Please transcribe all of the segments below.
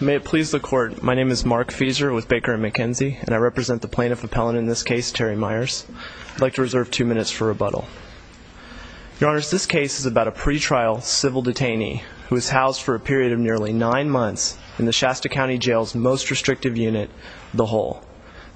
May it please the Court, my name is Mark Fieser with Baker & McKenzie, and I represent the plaintiff appellant in this case, Terry Myers. I'd like to reserve two minutes for rebuttal. Your Honors, this case is about a pretrial civil detainee who was housed for a period of nearly nine months in the Shasta County Jail's most restrictive unit, the hole.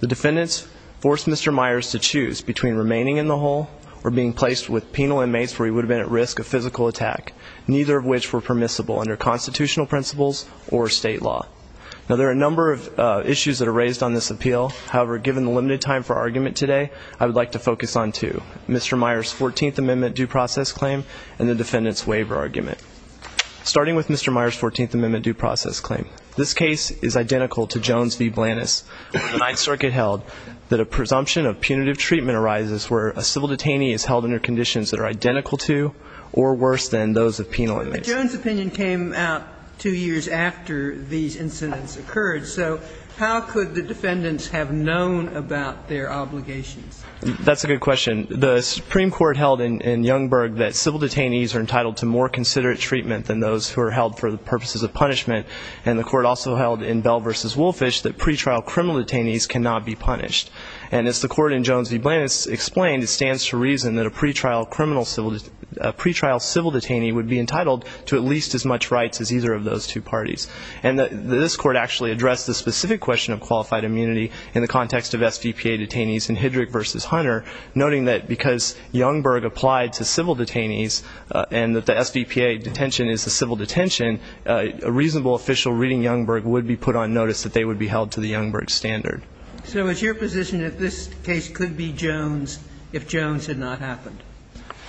The defendants forced Mr. Myers to choose between remaining in the hole or being placed with penal inmates where he would have been at risk of physical attack, neither of which were permissible under constitutional principles or state law. Now there are a number of issues that are raised on this appeal, however, given the limited time for argument today, I would like to focus on two. Mr. Myers' 14th Amendment due process claim and the defendant's waiver argument. Starting with Mr. Myers' 14th Amendment due process claim, this case is identical to Jones v. Blantis. The Ninth Circuit held that a presumption of punitive treatment arises where a civil detainee is held under conditions that are identical to or worse than those of penal inmates. But Jones' opinion came out two years after these incidents occurred, so how could the defendants have known about their obligations? That's a good question. The Supreme Court held in Youngberg that civil detainees are entitled to more considerate treatment than those who are held for the purposes of punishment, and the court also held in Bell v. Woolfish that pretrial criminal detainees cannot be punished. And as the court in Jones v. Blantis explained, it stands to reason that a pretrial civil detainee would be entitled to at least as much rights as either of those two parties. And this court actually addressed the specific question of qualified immunity in the context of SVPA detainees in Hedrick v. Hunter, noting that because Youngberg applied to civil detainees and that the SVPA detention is a civil detention, a reasonable official reading Youngberg would be put on notice that they would be held to the Youngberg standard. So it's your position that this case could be Jones if Jones had not happened?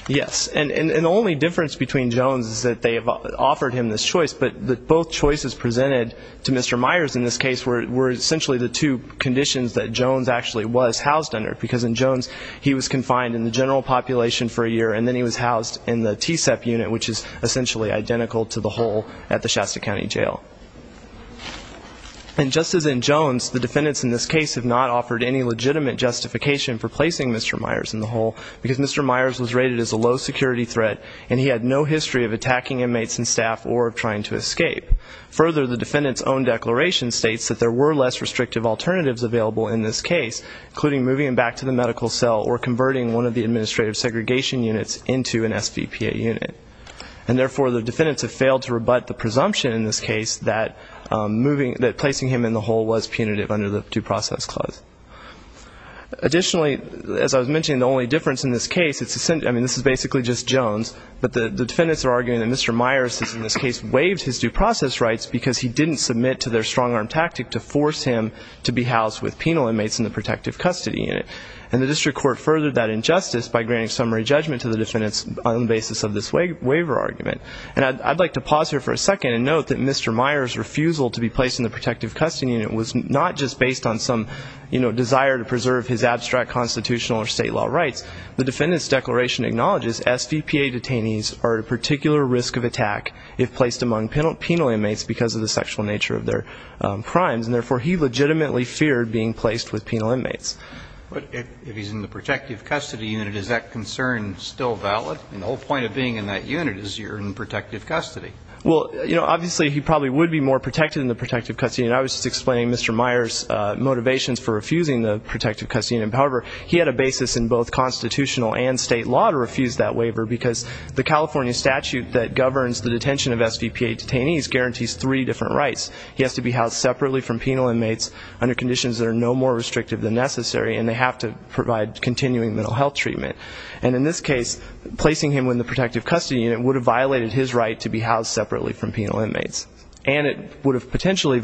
Yes. And the only difference between Jones is that they have offered him this choice, but both choices presented to Mr. Myers in this case were essentially the two conditions that Jones actually was housed under, because in Jones he was confined in the general population for a year and then he was housed in the TSEP unit, which is essentially identical to the hole at the Shasta County Jail. And just as in Jones, the defendants in this case have not offered any legitimate justification for placing Mr. Myers in the hole, because Mr. Myers was rated as a low security threat and he had no history of attacking inmates and staff or of trying to escape. Additionally, as I was mentioning, the only difference in this case, I mean, this is basically just Jones, but the defendants are arguing that Mr. Myers in this case waived his due process rights because he didn't submit to their strong arm tactic to force him to be housed with penal inmates in the protective custody unit. And the district court furthered that injustice by granting summary judgment to the defendants on the basis of this waiver argument. And I'd like to pause here for a second and note that Mr. Myers' refusal to be placed in the protective custody unit was not just based on some, you know, desire to preserve his abstract constitutional or state law rights. The defendant's declaration acknowledges SVPA detainees are at a particular risk of attack if placed among penal inmates because of the sexual nature of their crimes, and therefore he legitimately feared being placed with penal inmates. But if he's in the protective custody unit, is that concern still valid? I mean, the whole point of being in that unit is you're in protective custody. Well, you know, obviously he probably would be more protected in the protective custody unit. I was just explaining Mr. Myers' motivations for refusing the protective custody unit. However, he had a basis in both constitutional and state law to refuse that waiver because the California statute that governs the detention of SVPA detainees guarantees three different rights. He has to be housed separately from penal inmates under conditions that are no more restrictive than necessary, and they have to provide continuing mental health treatment. And in this case, placing him in the protective custody unit would have violated his right to be housed separately from penal inmates. And it would have potentially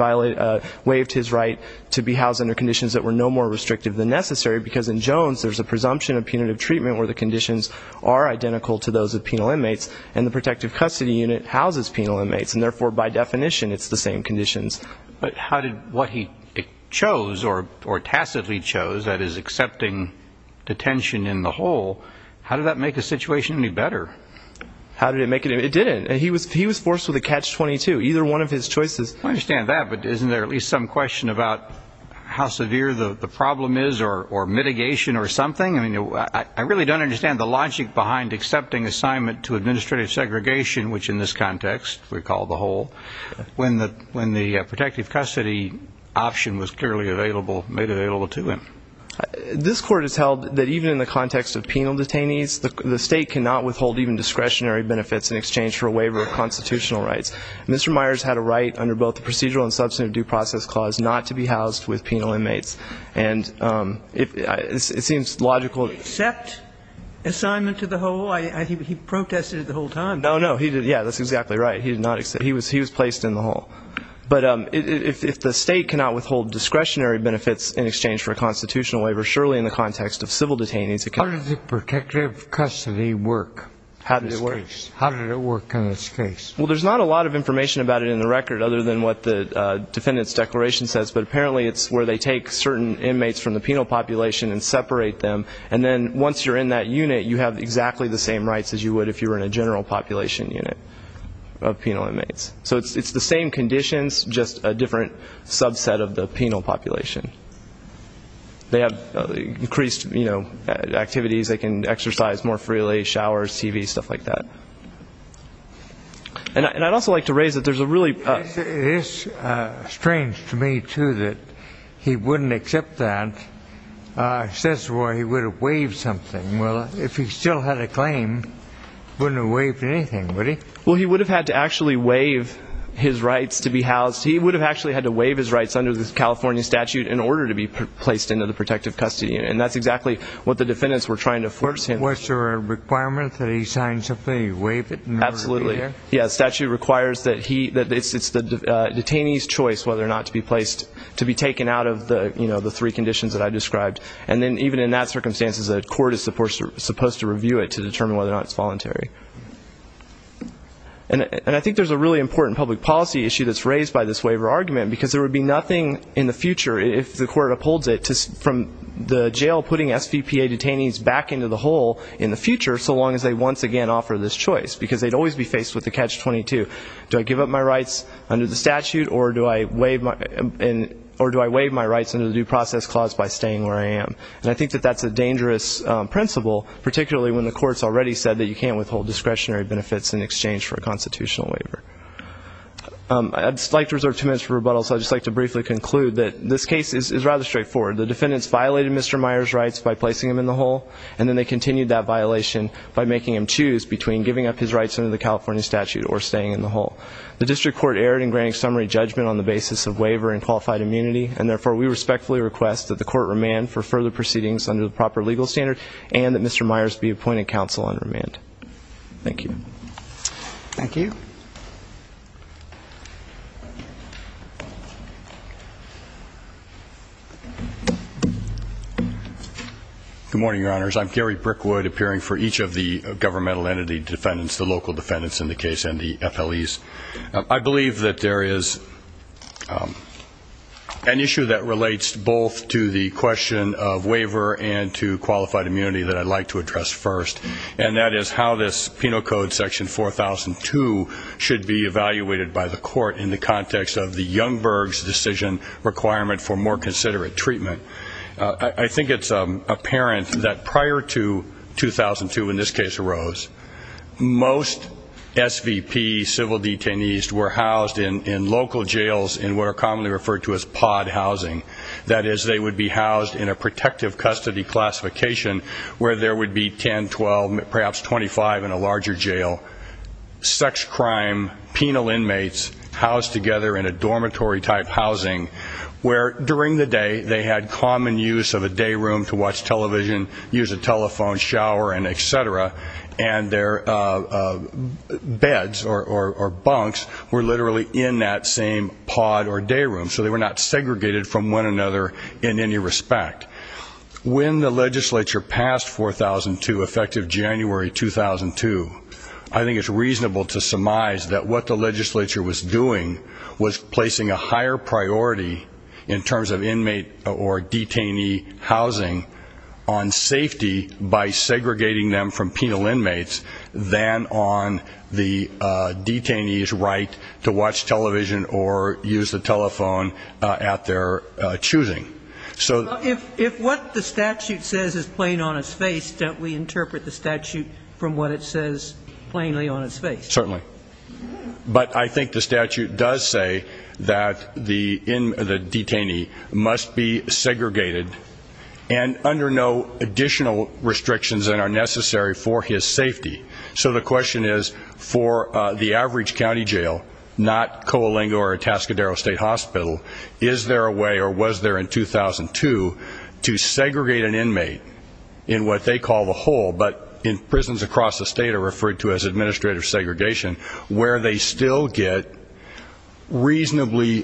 waived his right to be housed under conditions that were no more restrictive than necessary because in Jones there's a presumption of punitive treatment where the conditions are identical to those of penal inmates, and the protective custody unit houses penal inmates, and therefore, by definition, it's the same conditions. But how did what he chose or tacitly chose, that is, accepting detention in the hole, how did that make the situation any better? How did it make it? It didn't. He was forced with a catch-22, either one of his choices. I understand that, but isn't there at least some question about how severe the problem is or mitigation or something? I really don't understand the logic behind accepting assignment to administrative segregation, which in this context we call the hole, when the protective custody option was clearly made available to him. This court has held that even in the context of penal detainees, the state cannot withhold even discretionary benefits in exchange for a waiver of constitutional rights. Mr. Myers had a right under both the procedural and substantive due process clause not to be housed with penal inmates. And it seems logical. Did he accept assignment to the hole? He protested it the whole time. No, no. Yeah, that's exactly right. He did not accept. He was placed in the hole. But if the state cannot withhold discretionary benefits in exchange for a constitutional waiver, surely in the context of civil detainees it can. How did the protective custody work in this case? How did it work? How did it work in this case? Well, there's not a lot of information about it in the record other than what the defendant's declaration says, but apparently it's where they take certain inmates from the penal population and separate them. And then once you're in that unit, you have exactly the same rights as you would if you were in a general population unit of penal inmates. So it's the same conditions, just a different subset of the penal population. They have increased activities. They can exercise more freely, showers, TV, stuff like that. And I'd also like to raise that there's a really ---- It is strange to me, too, that he wouldn't accept that. It says where he would have waived something. Well, if he still had a claim, he wouldn't have waived anything, would he? Well, he would have had to actually waive his rights to be housed. He would have actually had to waive his rights under the California statute in order to be placed into the protective custody unit, and that's exactly what the defendants were trying to force him. Was there a requirement that he sign something, waive it, and never be there? Absolutely. Yeah, the statute requires that he ---- It's the detainee's choice whether or not to be placed, to be taken out of the three conditions that I described. And then even in that circumstance, the court is supposed to review it to determine whether or not it's voluntary. And I think there's a really important public policy issue that's raised by this waiver argument, because there would be nothing in the future, if the court upholds it, from the jail putting SVPA detainees back into the hole in the future, so long as they once again offer this choice, because they'd always be faced with a catch-22. Do I give up my rights under the statute or do I waive my rights under the due process clause by staying where I am? And I think that that's a dangerous principle, particularly when the court's already said that you can't withhold discretionary benefits in exchange for a constitutional waiver. I'd just like to reserve two minutes for rebuttal, so I'd just like to briefly conclude that this case is rather straightforward. The defendants violated Mr. Meyer's rights by placing him in the hole, and then they continued that violation by making him choose between giving up his rights under the California statute or staying in the hole. The district court erred in granting summary judgment on the basis of waiver and qualified immunity, and therefore we respectfully request that the court remand for further proceedings under the proper legal standard and that Mr. Meyer's be appointed counsel on remand. Thank you. Thank you. Good morning, Your Honors. I'm Gary Brickwood, appearing for each of the governmental entity defendants, the local defendants in the case and the FLEs. I believe that there is an issue that relates both to the question of waiver and to qualified immunity that I'd like to address first, and that is how this Penal Code section 4002 should be evaluated by the court in the context of the Youngberg's decision requirement for more considerate treatment. I think it's apparent that prior to 2002, in this case, arose, most SVP civil detainees were housed in local jails in what are commonly referred to as pod housing. That is, they would be housed in a protective custody classification, where there would be 10, 12, perhaps 25 in a larger jail. Sex crime, penal inmates housed together in a dormitory-type housing, where during the day they had common use of a day room to watch television, use a telephone, shower, and et cetera, and their beds or bunks were literally in that same pod or day room, so they were not segregated from one another in any respect. When the legislature passed 4002, effective January 2002, I think it's reasonable to surmise that what the legislature was doing was placing a higher priority in terms of inmate or detainee housing on safety by segregating them from penal inmates than on the detainee's right to watch television or use the telephone at their choosing. So if what the statute says is plain on its face, don't we interpret the statute from what it says plainly on its face? Certainly. But I think the statute does say that the detainee must be segregated and under no additional restrictions that are necessary for his safety. So the question is, for the average county jail, not Coalinga or Atascadero State Hospital, is there a way or was there in 2002 to segregate an inmate in what they call the hole, but in prisons across the state are referred to as administrative segregation, where they still get reasonably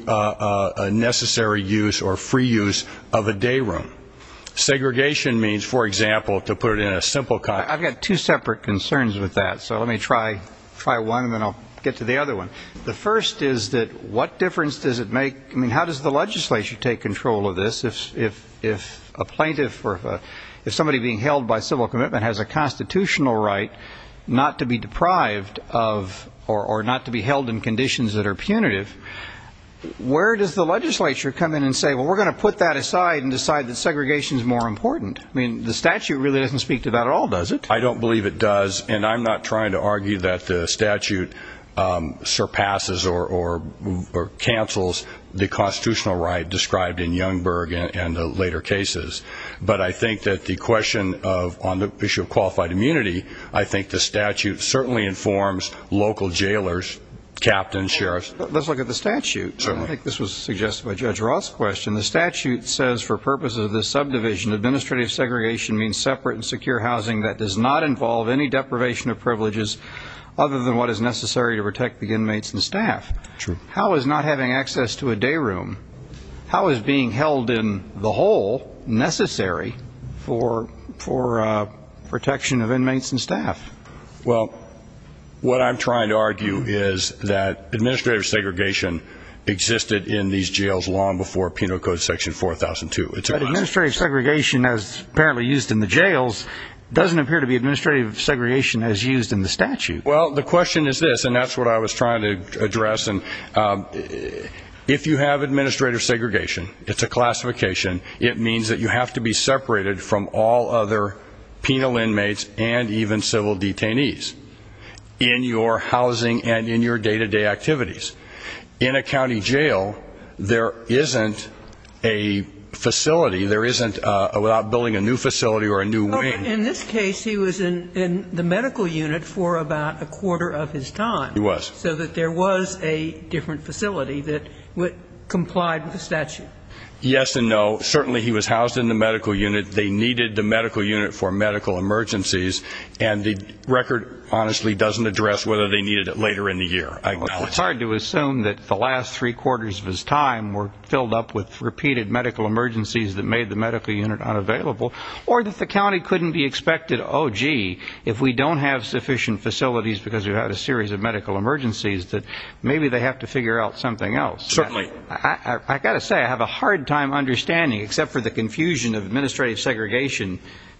necessary use or free use of a day room? Segregation means, for example, to put it in a simple context. I've got two separate concerns with that, so let me try one and then I'll get to the other one. The first is that what difference does it make, I mean, how does the legislature take control of this if a plaintiff or if somebody being held by civil commitment has a constitutional right not to be deprived of or not to be held in conditions that are punitive, where does the legislature come in and say, well, we're going to put that aside and decide that segregation is more important? I mean, the statute really doesn't speak to that at all, does it? I don't believe it does, and I'm not trying to argue that the statute surpasses or cancels the constitutional right described in Youngberg and the later cases, but I think that the question on the issue of qualified immunity, I think the statute certainly informs local jailers, captains, sheriffs. Let's look at the statute. I think this was suggested by Judge Roth's question. The statute says, for purposes of this subdivision, administrative segregation means separate and secure housing that does not involve any deprivation of privileges other than what is necessary to protect the inmates and staff. How is not having access to a day room, how is being held in the hole necessary for protection of inmates and staff? Well, what I'm trying to argue is that administrative segregation existed in these jails long before Penal Code section 4002. But administrative segregation, as apparently used in the jails, doesn't appear to be administrative segregation as used in the statute. Well, the question is this, and that's what I was trying to address. If you have administrative segregation, it's a classification, it means that you have to be separated from all other penal inmates and even civil detainees in your housing and in your day-to-day activities. In a county jail, there isn't a facility, there isn't, without building a new facility or a new wing. Well, in this case, he was in the medical unit for about a quarter of his time. He was. So that there was a different facility that complied with the statute. Yes and no. Certainly he was housed in the medical unit. They needed the medical unit for medical emergencies, and the record honestly doesn't address whether they needed it later in the year. It's hard to assume that the last three quarters of his time were filled up with repeated medical emergencies that made the medical unit unavailable, or that the county couldn't be expected, oh, gee, if we don't have sufficient facilities because we've had a series of medical emergencies, that maybe they have to figure out something else. Certainly. I've got to say, I have a hard time understanding, except for the confusion of administrative segregation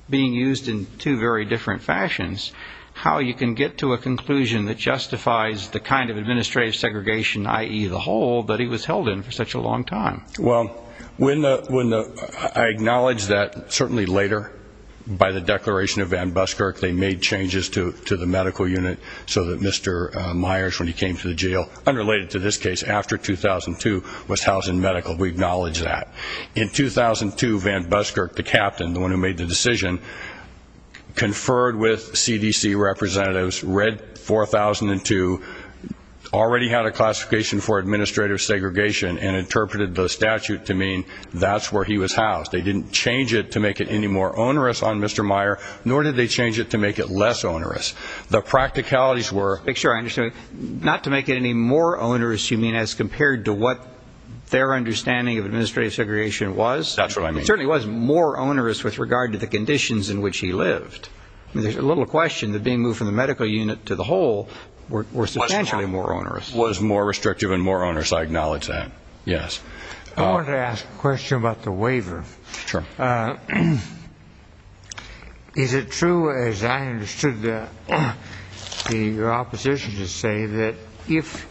being used in two very different fashions, how you can get to a conclusion that justifies the kind of administrative segregation, i.e., the whole, that he was held in for such a long time. Well, I acknowledge that certainly later, by the declaration of Van Buskirk, they made changes to the medical unit so that Mr. Myers, when he came to the jail, unrelated to this case, after 2002, was housed in medical. We acknowledge that. In 2002, Van Buskirk, the captain, the one who made the decision, conferred with CDC representatives, read 4002, already had a classification for administrative segregation, and interpreted the statute to mean that's where he was housed. They didn't change it to make it any more onerous on Mr. Myers, nor did they change it to make it less onerous. The practicalities were to make sure I understand, not to make it any more onerous, you mean, as compared to what their understanding of administrative segregation was? That's what I mean. It certainly was more onerous with regard to the conditions in which he lived. There's a little question that being moved from the medical unit to the whole was substantially more onerous. It was more restrictive and more onerous, I acknowledge that, yes. I wanted to ask a question about the waiver. Sure. Is it true, as I understood your opposition to say, that if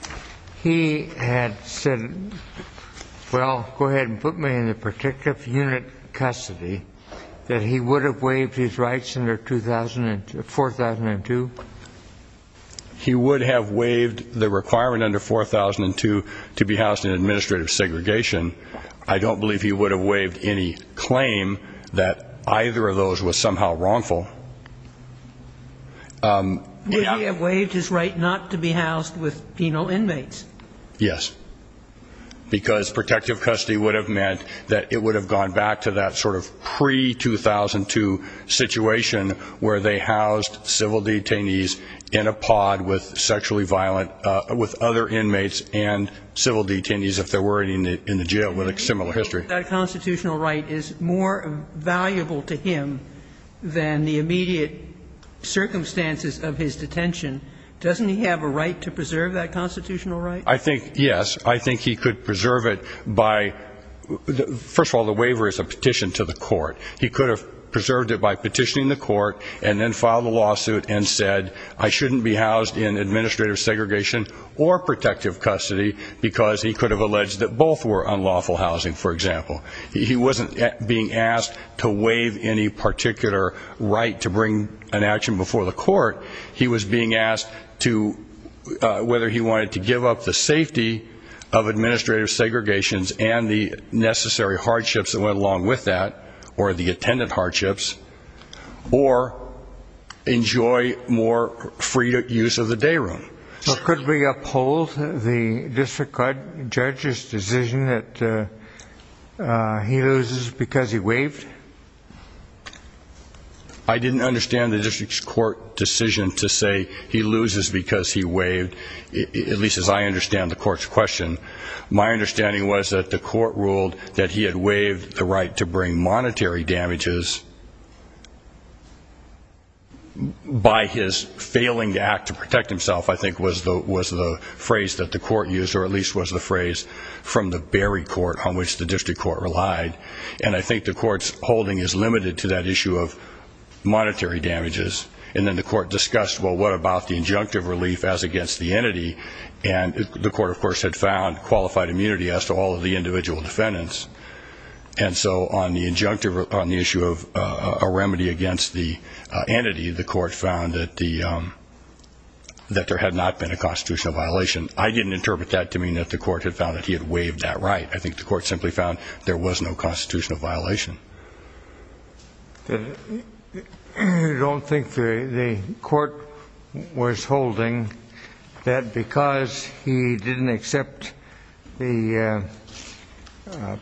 he had said, well, go ahead and put me in the protective unit custody, that he would have waived his rights under 4002? He would have waived the requirement under 4002 to be housed in administrative segregation. I don't believe he would have waived any claim that either of those was somehow wrongful. Would he have waived his right not to be housed with penal inmates? Yes. Because protective custody would have meant that it would have gone back to that sort of pre-2002 situation where they housed civil detainees in a pod with sexually violent other inmates and civil detainees, if there were any, in the jail with a similar history. That constitutional right is more valuable to him than the immediate circumstances of his detention. Doesn't he have a right to preserve that constitutional right? I think, yes. I think he could preserve it by, first of all, the waiver is a petition to the court. He could have preserved it by petitioning the court and then filed a lawsuit and said, I shouldn't be housed in administrative segregation or protective custody because he could have alleged that both were unlawful housing, for example. He wasn't being asked to waive any particular right to bring an action before the court. He was being asked whether he wanted to give up the safety of administrative segregations and the necessary hardships that went along with that, or the attendant hardships, or enjoy more free use of the day room. Could we uphold the district judge's decision that he loses because he waived? I didn't understand the district's court decision to say he loses because he waived, at least as I understand the court's question. My understanding was that the court ruled that he had waived the right to bring monetary damages by his failing to act to protect himself, I think, was the phrase that the court used, or at least was the phrase from the Berry court on which the district court relied. And I think the court's holding is limited to that issue of monetary damages. And then the court discussed, well, what about the injunctive relief as against the entity? And the court, of course, had found qualified immunity as to all of the individual defendants. And so on the issue of a remedy against the entity, the court found that there had not been a constitutional violation. I didn't interpret that to mean that the court had found that he had waived that right. I think the court simply found there was no constitutional violation. I don't think the court was holding that because he didn't accept the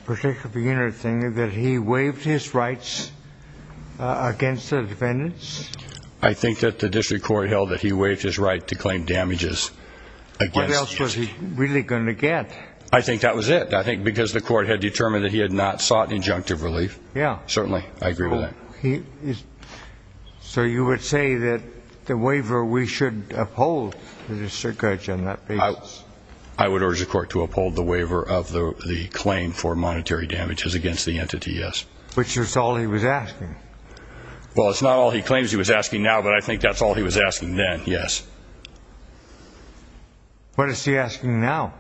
protection of the entity, that he waived his rights against the defendants? I think that the district court held that he waived his right to claim damages against the entity. What else was he really going to get? I think that was it. I think because the court had determined that he had not sought injunctive relief. Yeah. Certainly. I agree with that. So you would say that the waiver we should uphold to the district judge on that basis? I would urge the court to uphold the waiver of the claim for monetary damages against the entity, yes. Which is all he was asking. Well, it's not all he claims he was asking now, but I think that's all he was asking then, yes. What is he asking now?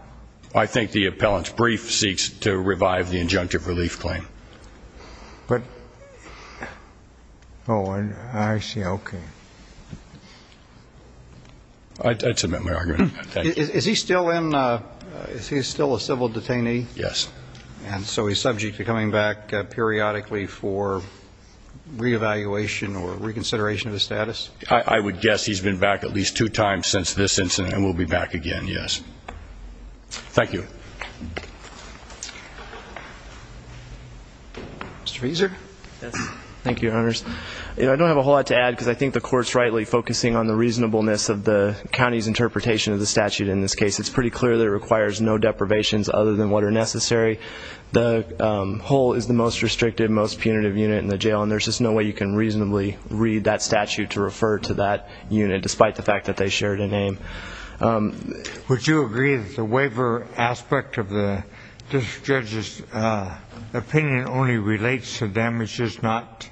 I think the appellant's brief seeks to revive the injunctive relief claim. Oh, I see. Okay. I'd submit my argument. Thank you. Is he still a civil detainee? Yes. And so he's subject to coming back periodically for reevaluation or reconsideration of his status? I would guess he's been back at least two times since this incident and will be back again, yes. Thank you. Mr. Fraser? Yes. Thank you, Your Honors. I don't have a whole lot to add because I think the court's rightly focusing on the reasonableness of the county's interpretation of the statute in this case. It's pretty clear that it requires no deprivations other than what are necessary. The whole is the most restrictive, most punitive unit in the jail, and there's just no way you can reasonably read that statute to refer to that unit, despite the fact that they shared a name. Would you agree that the waiver aspect of this judge's opinion only relates to damages not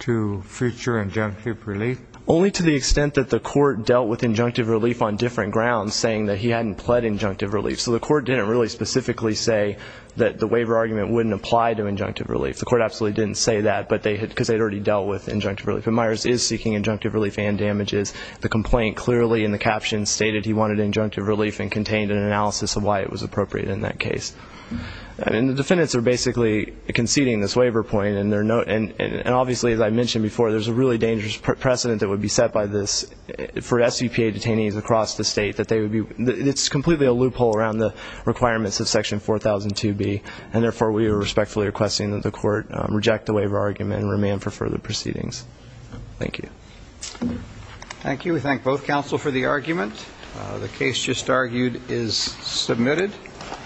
to future injunctive relief? Only to the extent that the court dealt with injunctive relief on different grounds, saying that he hadn't pled injunctive relief. So the court didn't really specifically say that the waiver argument wouldn't apply to injunctive relief. The court absolutely didn't say that because they had already dealt with injunctive relief. But Myers is seeking injunctive relief and damages. The complaint clearly in the caption stated he wanted injunctive relief and contained an analysis of why it was appropriate in that case. And the defendants are basically conceding this waiver point, and obviously, as I mentioned before, there's a really dangerous precedent that would be set by this for SVPA detainees across the state. It's completely a loophole around the requirements of Section 4002B, and therefore we are respectfully requesting that the court reject the waiver argument and remand for further proceedings. Thank you. Thank you. We thank both counsel for the argument. The case just argued is submitted.